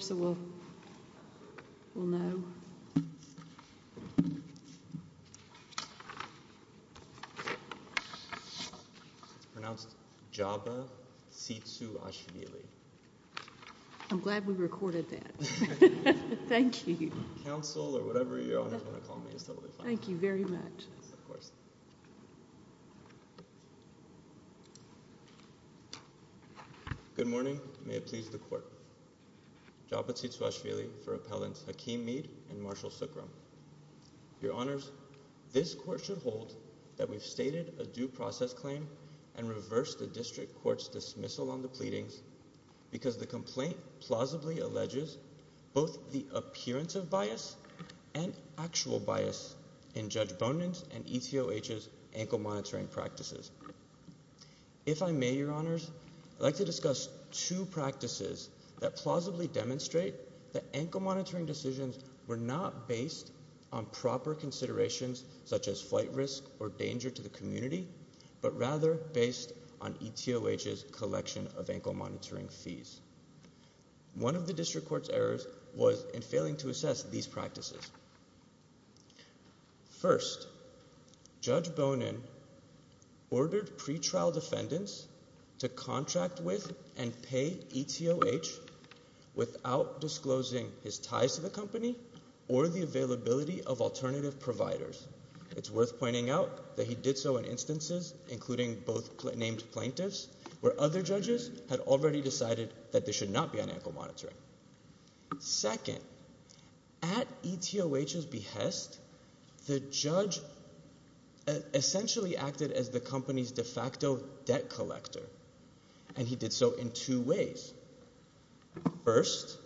So we'll, we'll know pronounced job seats who actually I'm glad we recorded that. Thank you. Council or whatever you want to call me. Thank you very much. Of course. Good morning. May it please the court job but seats wash really for appellants Hakeem Meade and Marshall Sookrum. Your honors, this court should hold that we've stated a due process claim and reverse the district courts dismissal on the pleadings because the complaint plausibly alleges both the appearance of bias and actual bias in Judge Bonin's and ETOH's ankle monitoring practices. If I may, your honors, I'd like to discuss two practices that plausibly demonstrate that ankle monitoring decisions were not based on proper considerations such as flight risk or danger to the community, but rather based on ETOH's collection of ankle monitoring fees. One of the district court's errors was in Judge Bonin ordered pretrial defendants to contract with and pay ETOH without disclosing his ties to the company or the availability of alternative providers. It's worth pointing out that he did so in instances including both named plaintiffs where other judges had already decided that they should not be on ankle monitoring. Second, at ETOH's behest, the judge essentially acted as the company's de facto debt collector and he did so in two ways. First,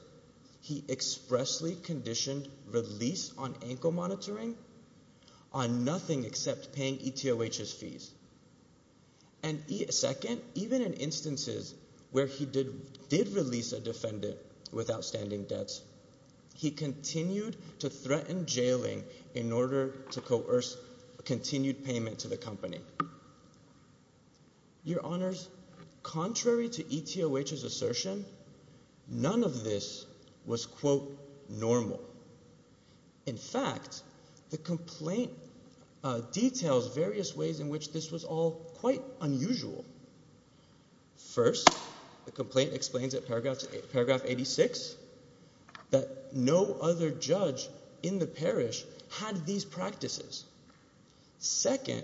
he expressly conditioned release on ankle monitoring on nothing except paying ETOH's fees. And second, even in instances where he did release a defendant with outstanding debts, he continued to threaten jailing in order to coerce continued payment to the company. Your honors, contrary to ETOH's assertion, none of this was, quote, normal. In fact, the complaint details various ways in which this was all quite unusual. First, the complaint explains at paragraph 86 that no other judge in the parish had these practices. Second,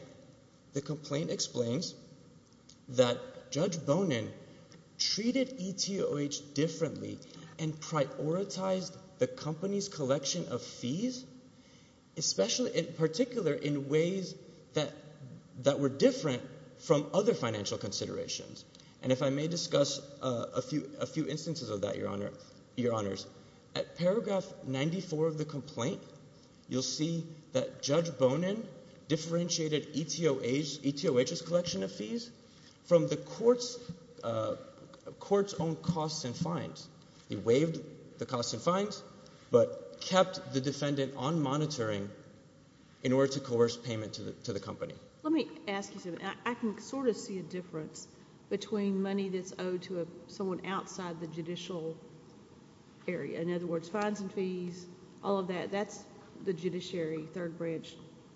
the complaint explains that Judge Bonin treated ETOH differently and prioritized the company's collection of fees, especially, in particular, in ways that were different from other financial considerations. And if I may discuss a few instances of that, your honors. At paragraph 94 of the complaint, you'll see that Judge Bonin differentiated ETOH's collection of fees from the court's own costs and fines. He waived the costs and fines but kept the defendant on monitoring in order to coerce payment to the company. Let me ask you something. I can sort of see a difference between money that's owed to someone outside the judicial area. In other words, fines and fees, all of that, that's the judiciary third branch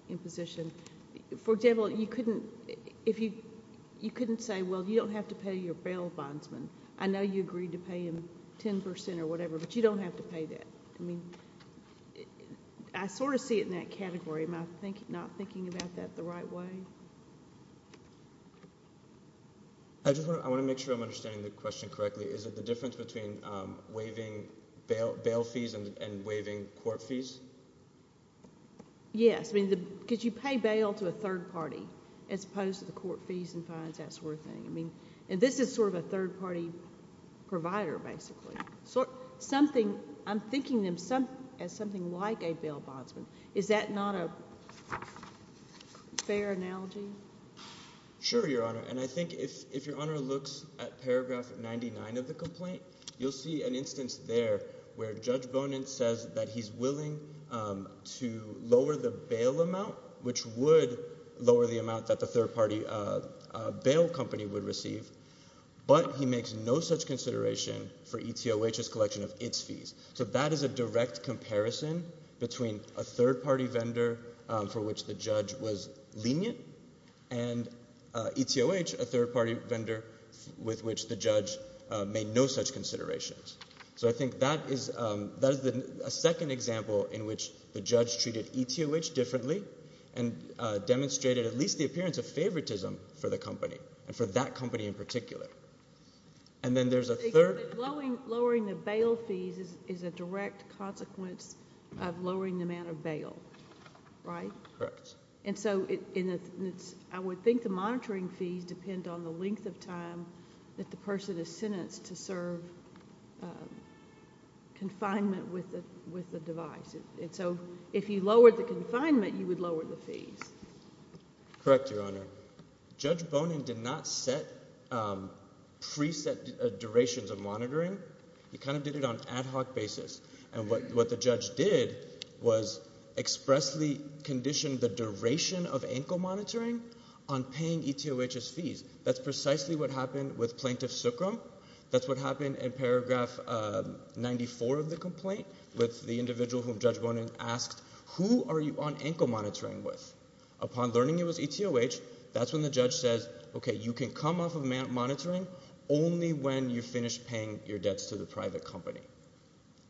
in position. For example, you couldn't say, well, you don't have to pay your bail bondsman. I know you agreed to pay him 10% or whatever, but you don't have to pay that. I mean, I sort of see it in that category. Am I not thinking about that the right way? I just want to make sure I'm understanding the question correctly. Is it the difference between waiving bail fees and waiving court fees? Yes. I mean, because you pay bail to a third party as opposed to the court fees and fines, that sort of thing. I mean, and this is sort of a third party provider, basically. I'm thinking of them as something like a bail bondsman. Is that not a fair analogy? Sure, Your Honor. And I think if Your Honor looks at paragraph 99 of the complaint, you'll see an instance there where Judge Bonin says that he's willing to lower the bail amount, which would lower the amount that the third party bail company would receive, but he makes no such consideration for ETOH's collection of its fees. So that is a direct comparison between a third party vendor for which the judge was lenient and ETOH, a third party vendor with which the judge made no such considerations. So I think that is a second example in which the judge treated ETOH differently and demonstrated at least the appearance of that company in particular. And then there's a third... Lowering the bail fees is a direct consequence of lowering the amount of bail, right? Correct. And so I would think the monitoring fees depend on the length of time that the person is sentenced to serve confinement with the device. And so if you lowered the confinement, you would lower the fees. Correct, Your Honor. Judge Bonin did not set pre-set durations of monitoring. He kind of did it on an ad hoc basis. And what the judge did was expressly condition the duration of ankle monitoring on paying ETOH's fees. That's precisely what happened with Plaintiff Sookrum. That's what happened in paragraph 94 of the complaint with the individual whom Judge Bonin asked, who are you on ankle monitoring with? Upon learning it was ETOH, that's when the judge says, okay, you can come off of monitoring only when you finish paying your debts to the private company.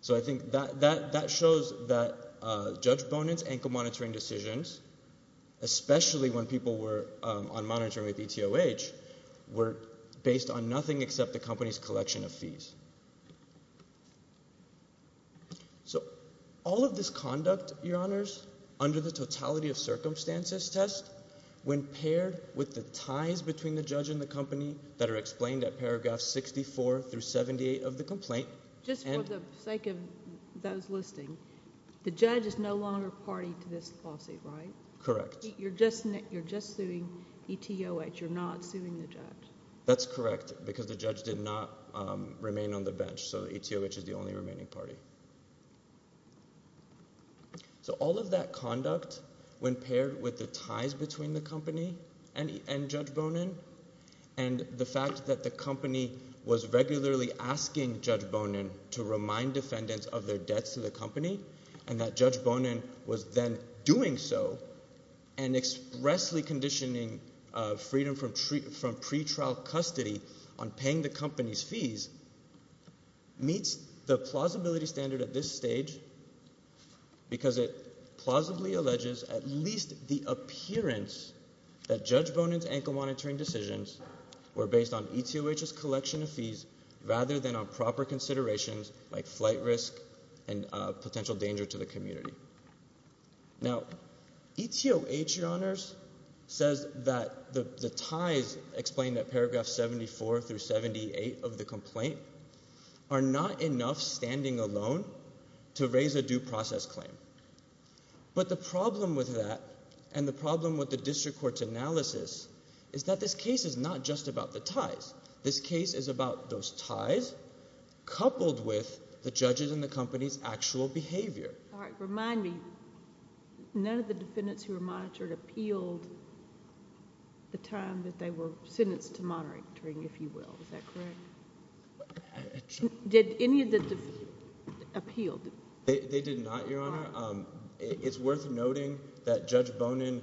So I think that shows that Judge Bonin's ankle monitoring decisions, especially when people were on monitoring with ETOH, were based on nothing except the company's collection of fees. So all of this conduct, Your Honors, under the circumstances test, when paired with the ties between the judge and the company that are explained at paragraph 64 through 78 of the complaint. Just for the sake of those listening, the judge is no longer party to this lawsuit, right? Correct. You're just suing ETOH. You're not suing the judge. That's correct, because the judge did not remain on the bench. So ETOH is the only remaining party. So all of that conduct, when paired with the ties between the company and Judge Bonin and the fact that the company was regularly asking Judge Bonin to remind defendants of their debts to the company and that Judge Bonin was then doing so and expressly conditioning freedom from pre-trial custody on paying the company's fees, meets the plausibility standard at this stage because it plausibly alleges at least the appearance that Judge Bonin's ankle monitoring decisions were based on ETOH's collection of fees rather than on proper considerations like flight risk and potential danger to the community. Now ETOH, Your Honors, says that the ties explained at paragraph 74 through 78 of the complaint are not enough standing alone to raise a due process claim. But the problem with that and the problem with the district court's analysis is that this case is not just about the ties. This case is about those ties coupled with the judges and the company's actual behavior. All right, remind me, none of the defendants who were monitored appealed the time that they were sentenced to monitoring, if you will, is that correct? Did any of the appealed? They did not, Your Honor. It's worth noting that Judge Bonin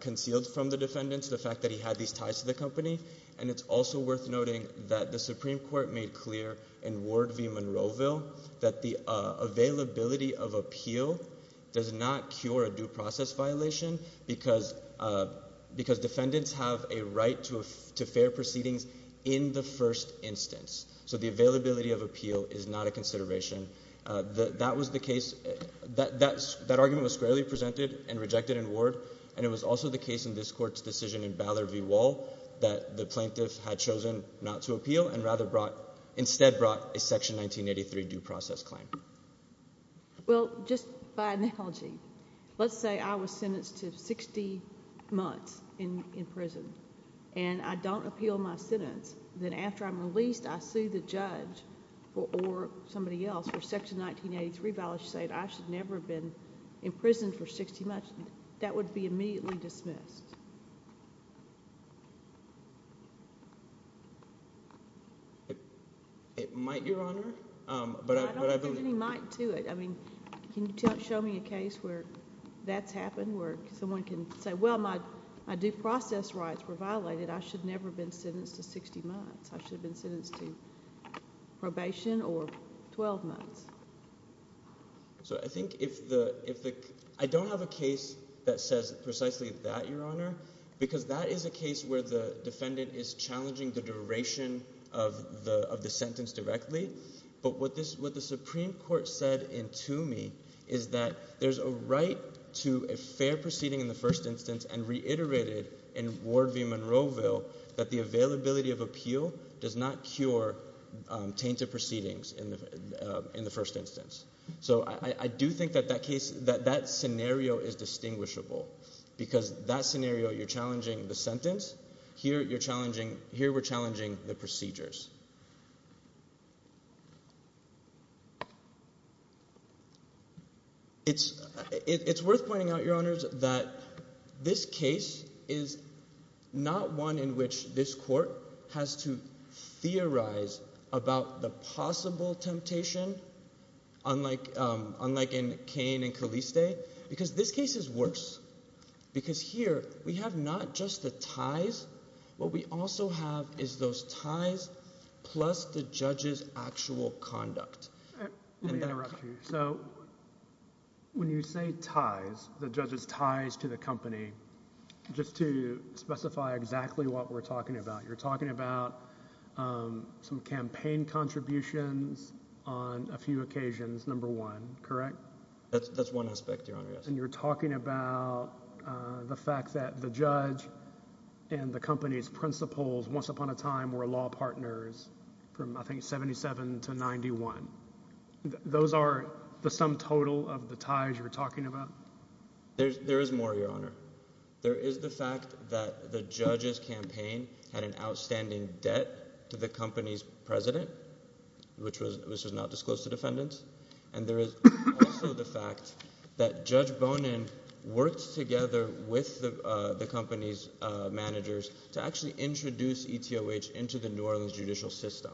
concealed from the defendants the fact that he had these ties to the company and it's also worth noting that the Supreme Court made clear in Ward v. Monroeville that the availability of appeal does not cure a due process violation because defendants have a right to fair proceedings in the first instance. So the availability of appeal is not a consideration. That argument was squarely presented and rejected in Ward and it was also the case in this court's decision in Ballard v. Wall that the plaintiff had chosen not to appeal and instead brought a Section 1983 due process claim. Well, just by analogy, let's say I was sentenced to 60 months in prison and I don't appeal my sentence, then after I'm released I sue the judge or somebody else for Section 1983 violation saying I should never have been in prison for 60 months. That would be too. I mean, can you show me a case where that's happened where someone can say, well, my due process rights were violated. I should never have been sentenced to 60 months. I should have been sentenced to probation or 12 months. So I think if the, if the, I don't have a case that says precisely that, Your Honor, because that is a case where the defendant is challenging the Supreme Court said in Toomey is that there's a right to a fair proceeding in the first instance and reiterated in Ward v. Monroeville that the availability of appeal does not cure tainted proceedings in the first instance. So I do think that that case, that scenario is distinguishable because that scenario, you're challenging the sentence. Here you're challenging, here we're challenging the procedures. It's, it's worth pointing out, Your Honors, that this case is not one in which this court has to theorize about the possible temptation, unlike, unlike in Kane and Caliste, because this case is worse because here we have not just the ties, what we also have is those ties plus the judge's actual conduct. Let me interrupt you. So when you say ties, the judge's ties to the company, just to specify exactly what we're talking about, you're talking about, um, some campaign contributions on a few occasions, number one, correct? That's, that's one aspect, Your Honor. You're talking about, uh, the fact that the judge and the company's principals once upon a time were law partners from, I think, 77 to 91. Those are the sum total of the ties you're talking about? There's, there is more, Your Honor. There is the fact that the judge's campaign had an outstanding debt to the company's president, which was, which was not disclosed to defendants, and there is also the fact that Judge Bonin worked together with the, uh, the company's, uh, managers to actually introduce ETOH into the New Orleans judicial system.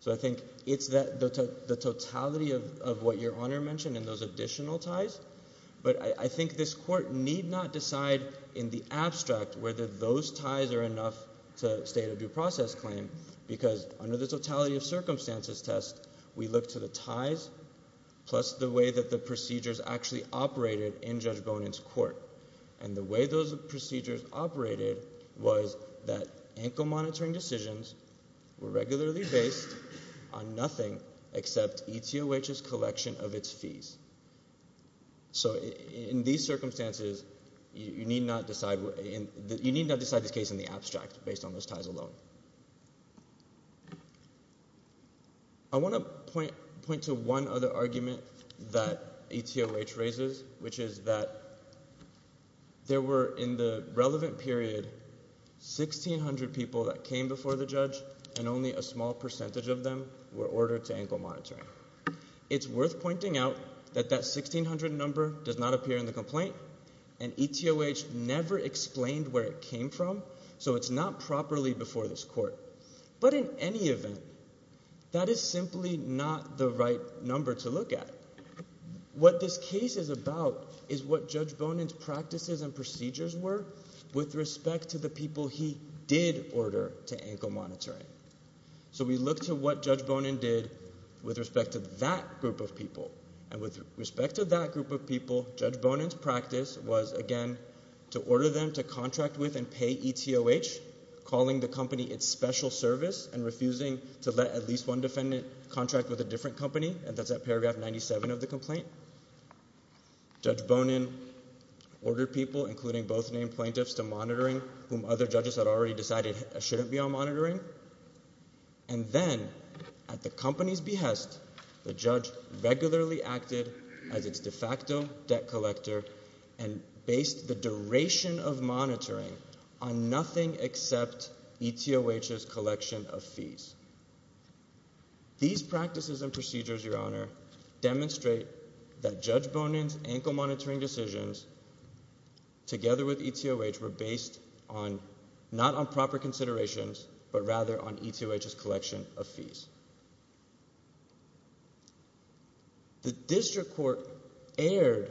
So I think it's that, the, the totality of, of what Your Honor mentioned and those additional ties, but I, I think this court need not decide in the abstract whether those ties are enough to state a due process claim, because under the totality of circumstances test, we look to the ties plus the way that the procedures actually operated in Judge Bonin's court, and the way those procedures operated was that ankle monitoring decisions were regularly based on nothing except ETOH's collection of its fees. So in these circumstances, you need not decide, you need not decide this case in the abstract. I want to point, point to one other argument that ETOH raises, which is that there were in the relevant period 1,600 people that came before the judge, and only a small percentage of them were ordered to ankle monitor. It's worth pointing out that that 1,600 number does not appear in the complaint, and ETOH never explained where it came from, so it's not properly before this court. But in any event, that is simply not the right number to look at. What this case is about is what Judge Bonin's practices and procedures were with respect to the people he did order to ankle monitoring. So we look to what Judge Bonin did with respect to that group of people, and with respect to that group of people, Judge Bonin's practice was, again, to order them to contract with and pay ETOH, calling the company its special service and refusing to let at least one defendant contract with a different company, and that's at paragraph 97 of the complaint. Judge Bonin ordered people, including both named plaintiffs, to monitoring whom other judges had already decided shouldn't be on monitoring. And then, at the company's behest, the judge regularly acted as its de facto debt collector and based the duration of monitoring on nothing except ETOH's collection of fees. These practices and procedures, Your Honor, demonstrate that Judge Bonin's ankle monitoring decisions, together with ETOH, were on not on proper considerations, but rather on ETOH's collection of fees. The district court erred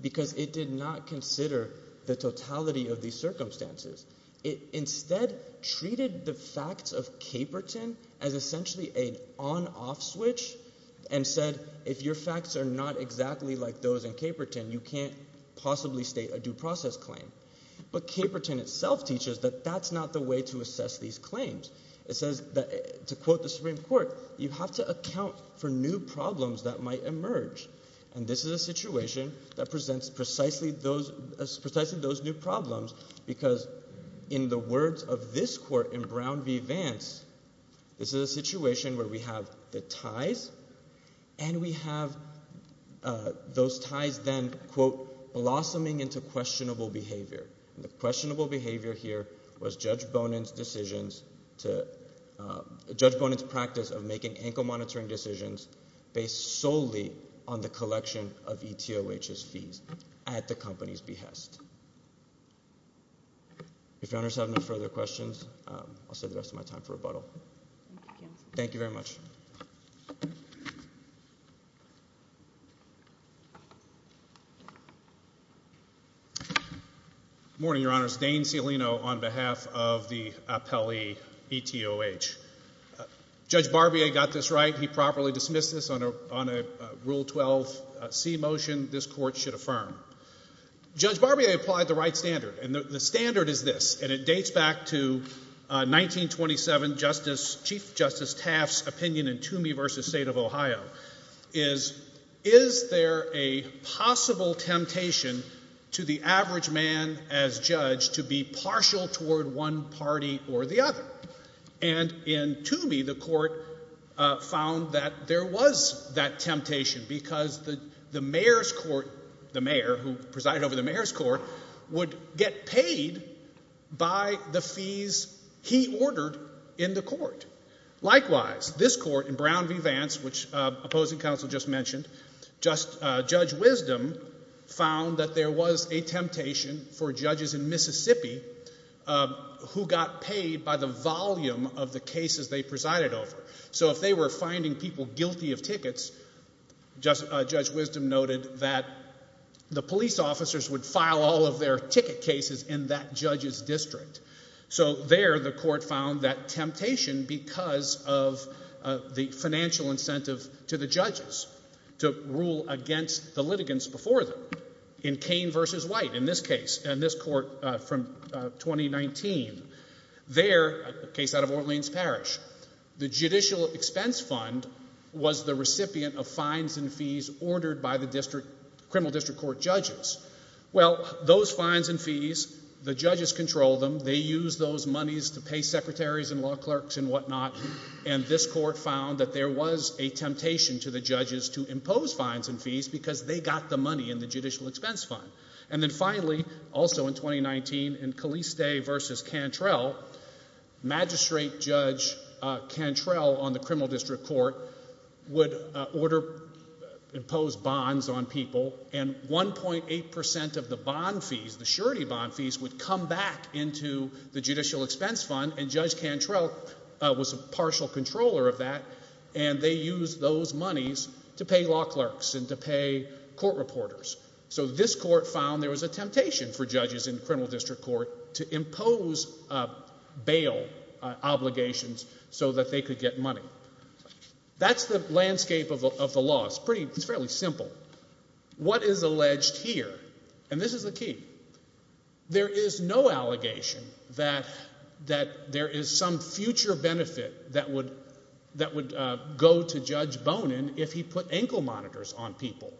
because it did not consider the totality of these circumstances. It instead treated the facts of Caperton as essentially an on-off switch and said, if your facts are not exactly like those in Caperton, you can't possibly state a due process claim. But Caperton itself teaches that that's not the way to assess these claims. It says that, to quote the Supreme Court, you have to account for new problems that might emerge. And this is a situation that presents precisely those new problems because, in the words of this court in Brown v. Vance, this is a situation where we have the ties and we have those ties then, quote, blossoming into questionable behavior. And the questionable behavior here was Judge Bonin's decisions to, Judge Bonin's practice of making ankle monitoring decisions based solely on the collection of ETOH's fees at the company's behest. If Your Honors have no further questions, I'll save the rest of my time for rebuttal. Thank you very much. Good morning, Your Honors. Dane Cialino on behalf of the Appellee ETOH. Judge Barbier got this right. He properly dismissed this on a Rule 12c motion this court should affirm. Judge Barbier applied the right standard, and the standard is this, and it dates back to 1927, Chief Justice Taft's in Toomey v. State of Ohio, is, is there a possible temptation to the average man as judge to be partial toward one party or the other? And in Toomey, the court found that there was that temptation because the mayor's court, the mayor who presided over the mayor's court, would get paid by the fees he ordered in the court. Likewise, this court in Brown v. Vance, which opposing counsel just mentioned, Judge Wisdom found that there was a temptation for judges in Mississippi who got paid by the volume of the cases they presided over. So if they were finding people guilty of tickets, Judge Wisdom noted that the police officers would file all of their ticket cases in that judge's district. So there the court found that temptation because of the financial incentive to the judges to rule against the litigants before them. In Kane v. White in this court from 2019, their case out of Orleans Parish, the judicial expense fund was the recipient of fines and fees ordered by the criminal district court judges. Well, those fines and fees, the judges control them, they use those monies to pay secretaries and law clerks and whatnot, and this court found that there was a temptation to the judges to impose fines and fees because they got the money in the judicial expense fund. And then finally, also in 2019, in Caliste v. Cantrell, Magistrate Judge Cantrell on the criminal district court would order, impose bonds on people, and 1.8% of the bond fees, the surety bond fees, would come back into the judicial expense fund, and Judge Cantrell was a partial controller of that, and they used those monies to pay law clerks and to pay court reporters. So this court found there was a temptation for judges in criminal district court to impose bail obligations so that they could get money. That's the landscape of the law. It's pretty, it's fairly simple. What is alleged here, and this is the key, there is no allegation that there is some future benefit that would go to Judge Bonin if he put ankle monitors on people.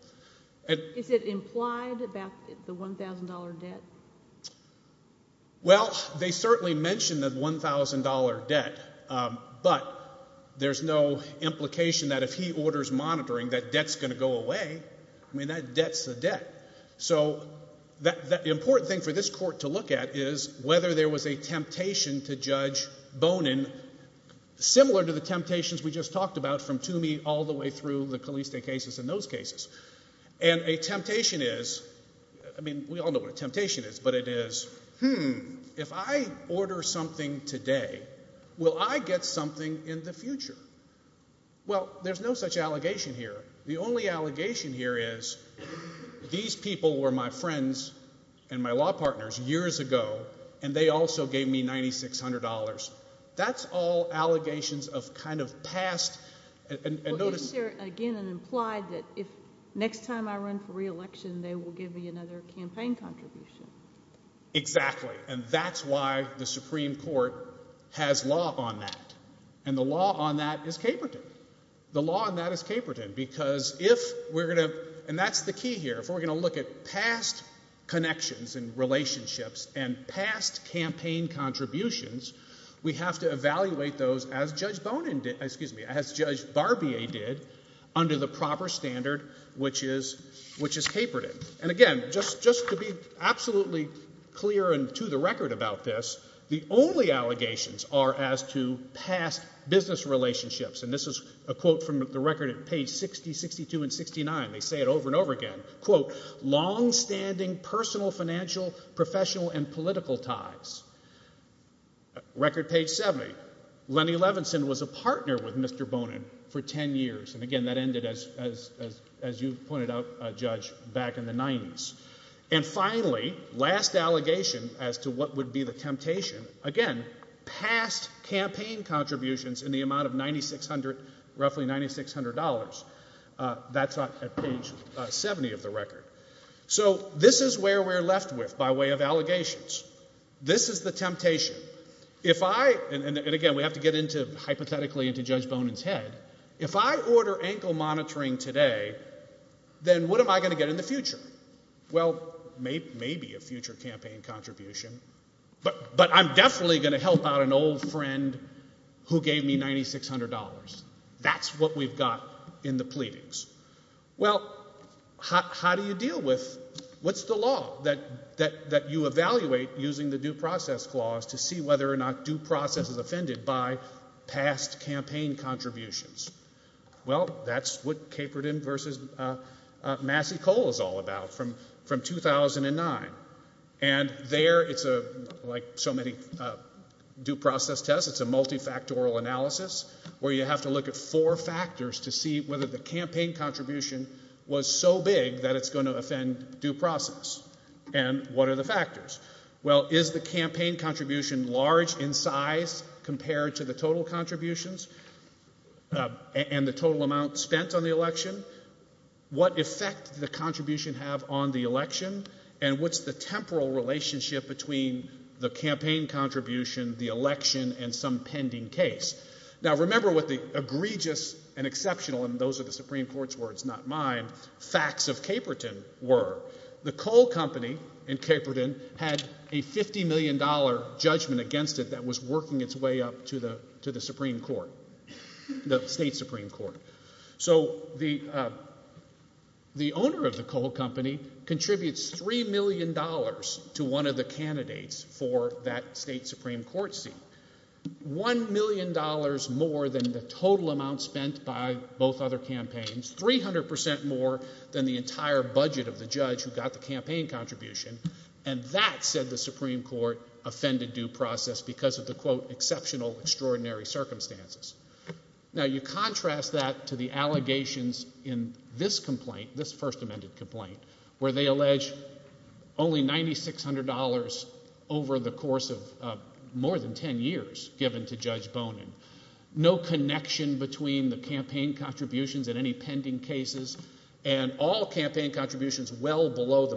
Is it implied about the $1,000 debt? Well, they certainly mentioned the $1,000 debt, but there's no implication that if he orders monitoring that debt's going to go away. I mean, that debt's a debt. So the important thing for similar to the temptations we just talked about from Toomey all the way through the Caliste cases and those cases, and a temptation is, I mean, we all know what a temptation is, but it is, hmm, if I order something today, will I get something in the future? Well, there's no such allegation here. The only allegation here is these people were my friends and my law partners years ago, and they also gave me $9,600. That's all allegations of kind of past, and notice- Well, isn't there, again, an implied that if next time I run for reelection, they will give me another campaign contribution? Exactly, and that's why the Supreme Court has law on that, and the law on that is Caperton. The law on that is Caperton, because if we're going to, and that's the key here, if we're going to look at past connections and relationships and past campaign contributions, we have to evaluate those as Judge Barbea did under the proper standard which is Caperton, and again, just to be absolutely clear and to the record about this, the only allegations are as to past business relationships, and this is a quote from the record at page 60, 62, and 69. They say over and over again, quote, long-standing personal, financial, professional, and political ties. Record page 70, Lenny Levinson was a partner with Mr. Bonin for 10 years, and again, that ended as you pointed out, Judge, back in the 90s, and finally, last allegation as to what would be the temptation, again, past campaign contributions in the amount of roughly $9,600. That's at page 70 of the record. So this is where we're left with by way of allegations. This is the temptation. If I, and again, we have to get into hypothetically into Judge Bonin's head, if I order ankle monitoring today, then what am I going to get in the future? Well, maybe a future campaign contribution, but I'm definitely going to help out an old friend who gave me $9,600. That's what we've got in the pleadings. Well, how do you deal with, what's the law that you evaluate using the due process clause to see whether or not due process is offended by past campaign contributions? Well, that's what Caperton versus Massey-Cole is all about from 2009, and there it's a, like so many due process tests, it's a multifactorial analysis where you have to look at four factors to see whether the campaign contribution was so big that it's going to offend due process, and what are the factors? Well, is the campaign contribution large in size compared to the total contributions and the total amount spent on the election? What effect did the contribution have on the election, and what's the temporal relationship between the campaign contribution, the election, and some pending case? Now, remember what the egregious and exceptional, and those are the Supreme Court's words, not mine, facts of Caperton were. The Cole Company in Caperton had a $50 million judgment against it that was working its way up to the Supreme Court, the state Supreme Court. So the owner of the Cole Company contributes $3 million to one of the candidates for that state Supreme Court seat, $1 million more than the total amount spent by both other campaigns, 300% more than the entire budget of the judge who got the campaign contribution, and that, said the Supreme Court, offended due process because of the, quote, exceptional, extraordinary circumstances. Now, you contrast that to the allegations in this complaint, this first amended complaint, where they allege only $9,600 over the course of more than 10 years given to Judge Bonin. No connection between the campaign contributions and any pending cases, and all campaign contributions well below the $9,600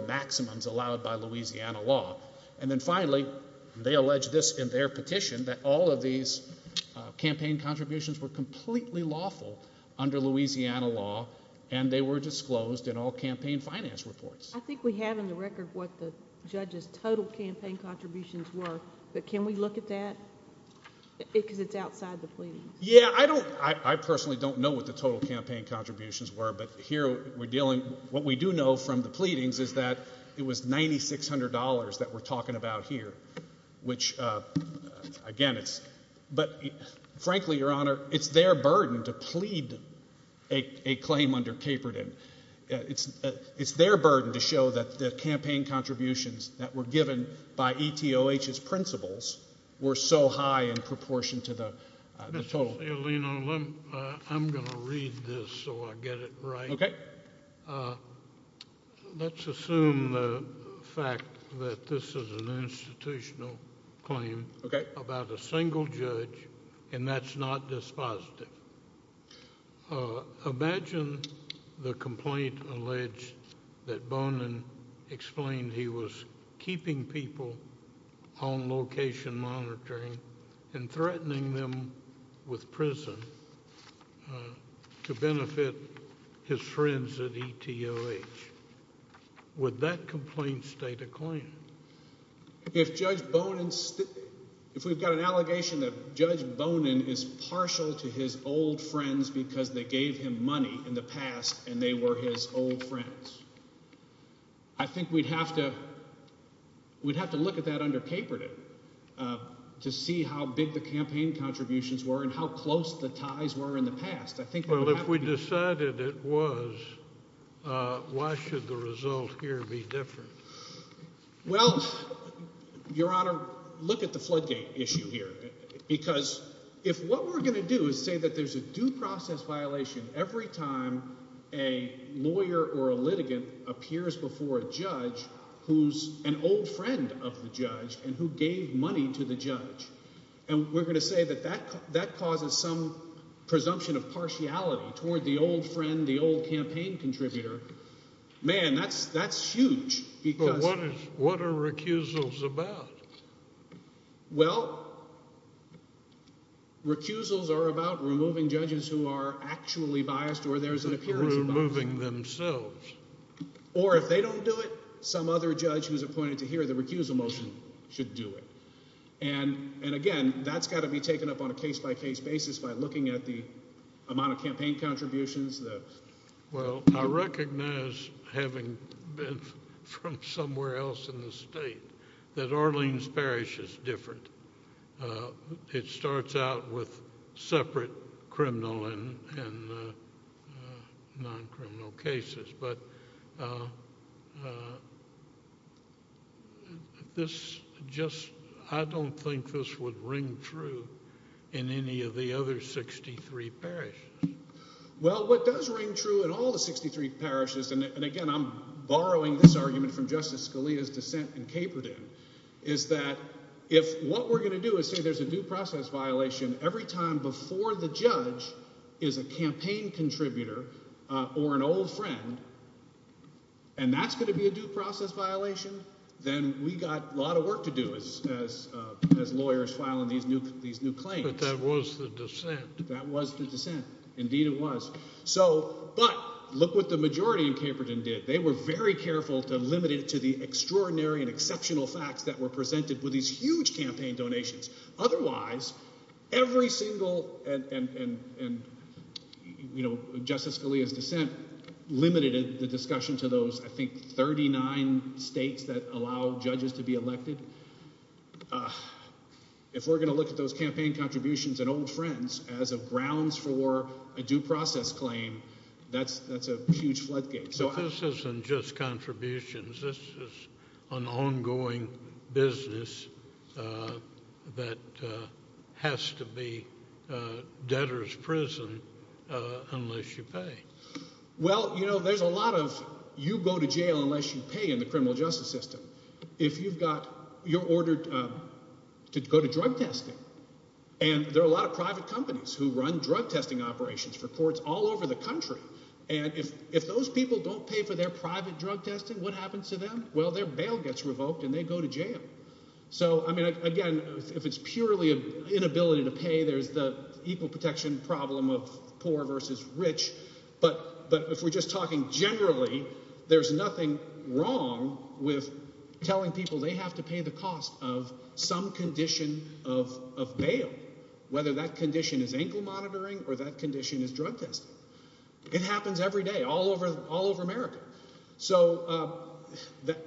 that we're talking about here, which again, it's, but frankly, Your Honor, it's their burden to plead a claim under Caperton. It's their burden to show that the campaign contributions that were given by ETOH's principles were so high in proportion to the total. Mr. Salino, I'm going to read this so I get it right. Okay. Let's assume the fact that this is an institutional claim about a single judge, and that's not dispositive. Imagine the complaint alleged that Bonin explained he was keeping people on location monitoring and threatening them with prison to benefit his friends at ETOH. Would that complaint stay the claim? If Judge Bonin, if we've got an allegation that Judge Bonin is partial to his old friends because they gave him money in the past and they were his old friends, I think we'd have to, we'd have to look at that under Caperton to see how big the campaign contributions were and how the ties were in the past. I think, well, if we decided it was, why should the result here be different? Well, Your Honor, look at the floodgate issue here, because if what we're going to do is say that there's a due process violation every time a lawyer or a litigant appears before a judge who's an old friend of the judge and who gave money to the judge, and we're going to say that that causes some presumption of partiality toward the old friend, the old campaign contributor, man, that's huge. What are recusals about? Well, recusals are about removing judges who are actually biased or there's an appearance of bias. Removing themselves. Or if they don't do it, some other judge who's appointed to hear the recusal motion should do it. And again, that's got to be taken up on a case-by-case basis by looking at the amount of campaign contributions. Well, I recognize, having been from somewhere else in the state, that Arlene's Parish is different. It starts out with separate criminal and non-criminal cases, but I don't think this would ring true in any of the other 63 parishes. Well, what does ring true in all the 63 parishes, and again, I'm borrowing this argument from Justice Scalia's dissent in Caperton, is that if what we're going to do is say there's a due process violation, and that's going to be a due process violation, then we've got a lot of work to do as lawyers filing these new claims. But that was the dissent. That was the dissent. Indeed, it was. But look what the majority in Caperton did. They were very careful to limit it to the extraordinary and exceptional facts that were presented with these huge campaign donations. Otherwise, every single, and Justice Scalia's dissent limited the discussion to those, I think, 39 states that allow judges to be elected. If we're going to look at those campaign contributions and old friends as grounds for a due process claim, that's a huge floodgate. This isn't just contributions. This is an ongoing business that has to be debtor's prison unless you pay. Well, you know, there's a lot of you go to jail unless you pay in the criminal justice system. If you've got, you're ordered to go to drug testing, and there are a lot of private companies who run drug testing operations for courts all over the country, and if those people don't pay for their private drug testing, what happens to them? Well, their bail gets revoked, and they go to jail. So, I mean, again, if it's purely an inability to pay, there's the equal protection problem of poor versus rich. But if we're just talking generally, there's nothing wrong with telling people they have to pay the cost of some condition of bail, whether that all over America. So,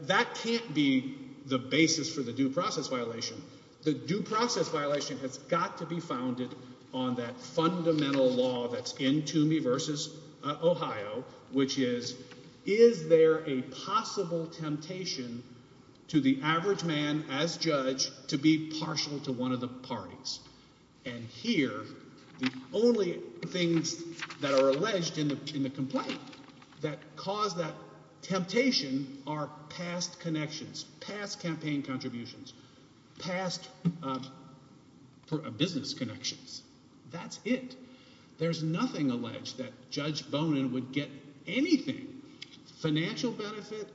that can't be the basis for the due process violation. The due process violation has got to be founded on that fundamental law that's in Toomey versus Ohio, which is, is there a possible temptation to the average man as judge to be partial to one of the parties? And here, the only things that are alleged in the complaint that cause that temptation are past connections, past campaign contributions, past business connections. That's it. There's nothing alleged that Judge Bonin would get anything, financial benefit,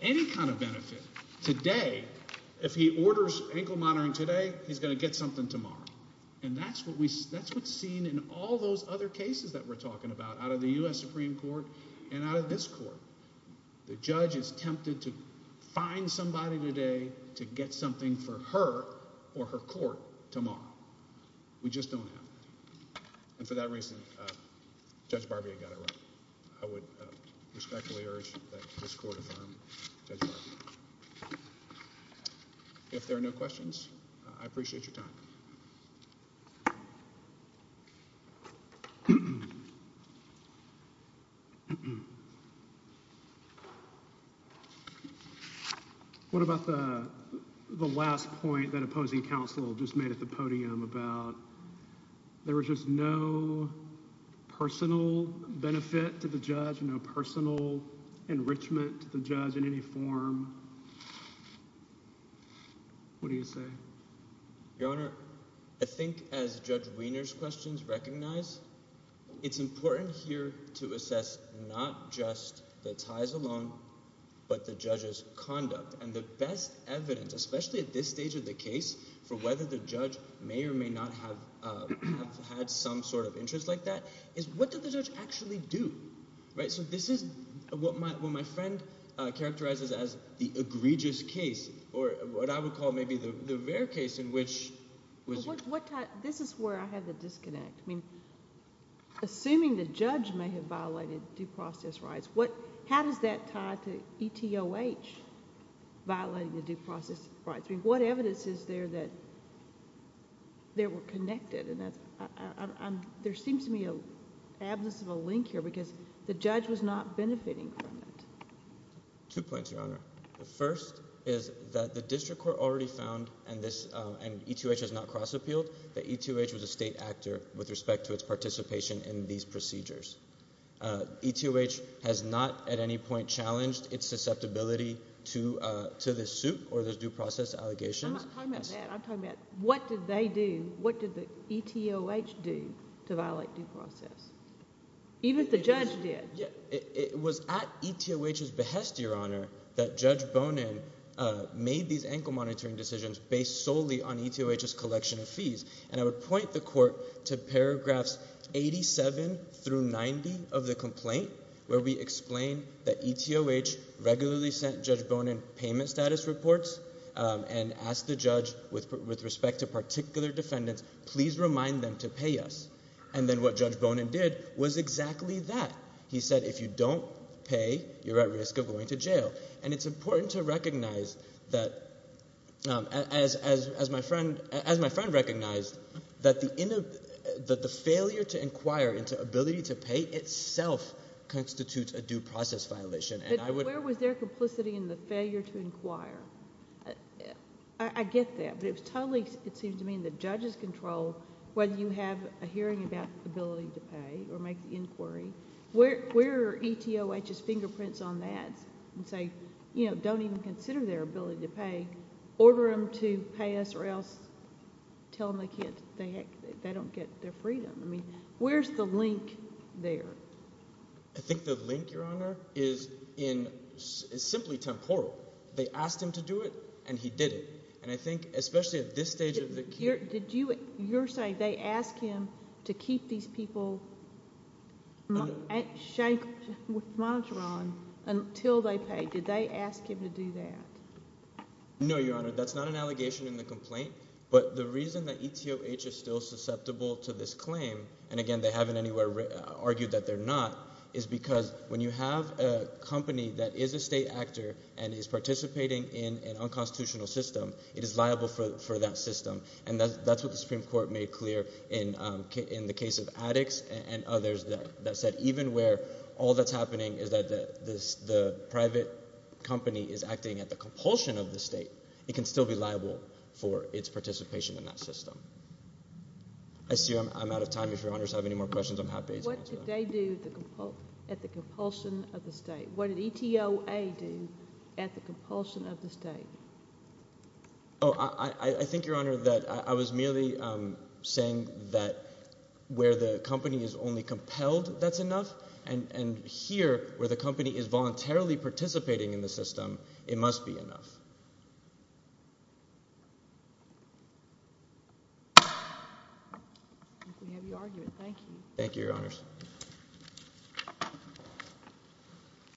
any kind of benefit, today. If he orders ankle monitoring today, he's going to get something tomorrow. And that's what we, that's what's seen in all those other cases that we're talking about out of the U.S. Supreme Court and out of this court. The judge is tempted to find somebody today to get something for her or her court tomorrow. We just don't have that. And for that reason, Judge Barbier got it right. I would respectfully urge that this court affirm Judge Barbier. If there are no questions, I appreciate your time. What about the last point that opposing counsel just made at the podium about there was just no personal benefit to the judge, no personal enrichment to the judge in any form? What do you say? Your Honor, I think as Judge Wiener's questions recognize, it's important here to assess not just the ties alone, but the judge's conduct. And the best I've had some sort of interest like that is what did the judge actually do? Right? So this is what my friend characterizes as the egregious case, or what I would call maybe the rare case in which... This is where I had the disconnect. I mean, assuming the judge may have violated due process rights, how does that tie to ETOH violating the due process rights? I think the evidence is there that they were connected. There seems to be an absence of a link here because the judge was not benefiting from it. Two points, Your Honor. The first is that the district court already found, and ETOH has not cross-appealed, that ETOH was a state actor with respect to its participation in these procedures. ETOH has not at any point challenged its susceptibility to this suit or this due process allegations. I'm not talking about that. I'm talking about what did they do, what did the ETOH do to violate due process? Even if the judge did. It was at ETOH's behest, Your Honor, that Judge Bonin made these ankle monitoring decisions based solely on ETOH's collection of fees. And I would point the court to paragraphs 87 through 90 of the complaint where we explain that ETOH regularly sent Judge Bonin payment status reports and asked the judge with respect to particular defendants, please remind them to pay us. And then what Judge Bonin did was exactly that. He said, if you don't pay, you're at risk of going to jail. And it's important to recognize that, as my friend recognized, that the failure to inquire into ability to pay itself constitutes a due process violation. But where was their complicity in the failure to inquire? I get that, but it was totally, it seems to me, in the judge's control whether you have a hearing about ability to pay or make the inquiry. Where are ETOH's fingerprints on that and say, you know, don't even consider their ability to pay, order them to pay us or else tell them they can't, they don't get their money. It's simply temporal. They asked him to do it and he did it. And I think, especially at this stage of the case... Did you, you're saying they asked him to keep these people monitor on until they paid. Did they ask him to do that? No, Your Honor, that's not an allegation in the complaint. But the reason that ETOH is still susceptible to this claim, and again, they haven't anywhere argued that they're not, is because when you have a company that is a state actor and is participating in an unconstitutional system, it is liable for that system. And that's what the Supreme Court made clear in the case of Addix and others that said even where all that's happening is that the private company is acting at the compulsion of the state, it can still be liable for its participation in that system. I see I'm out of time. If Your questions, I'm happy to answer them. What did they do at the compulsion of the state? What did ETOA do at the compulsion of the state? Oh, I think, Your Honor, that I was merely saying that where the company is only compelled, that's enough. And here, where the company is voluntarily participating in the system, it must be enough. I think we have you argued. Thank you. Thank you, Your Honors.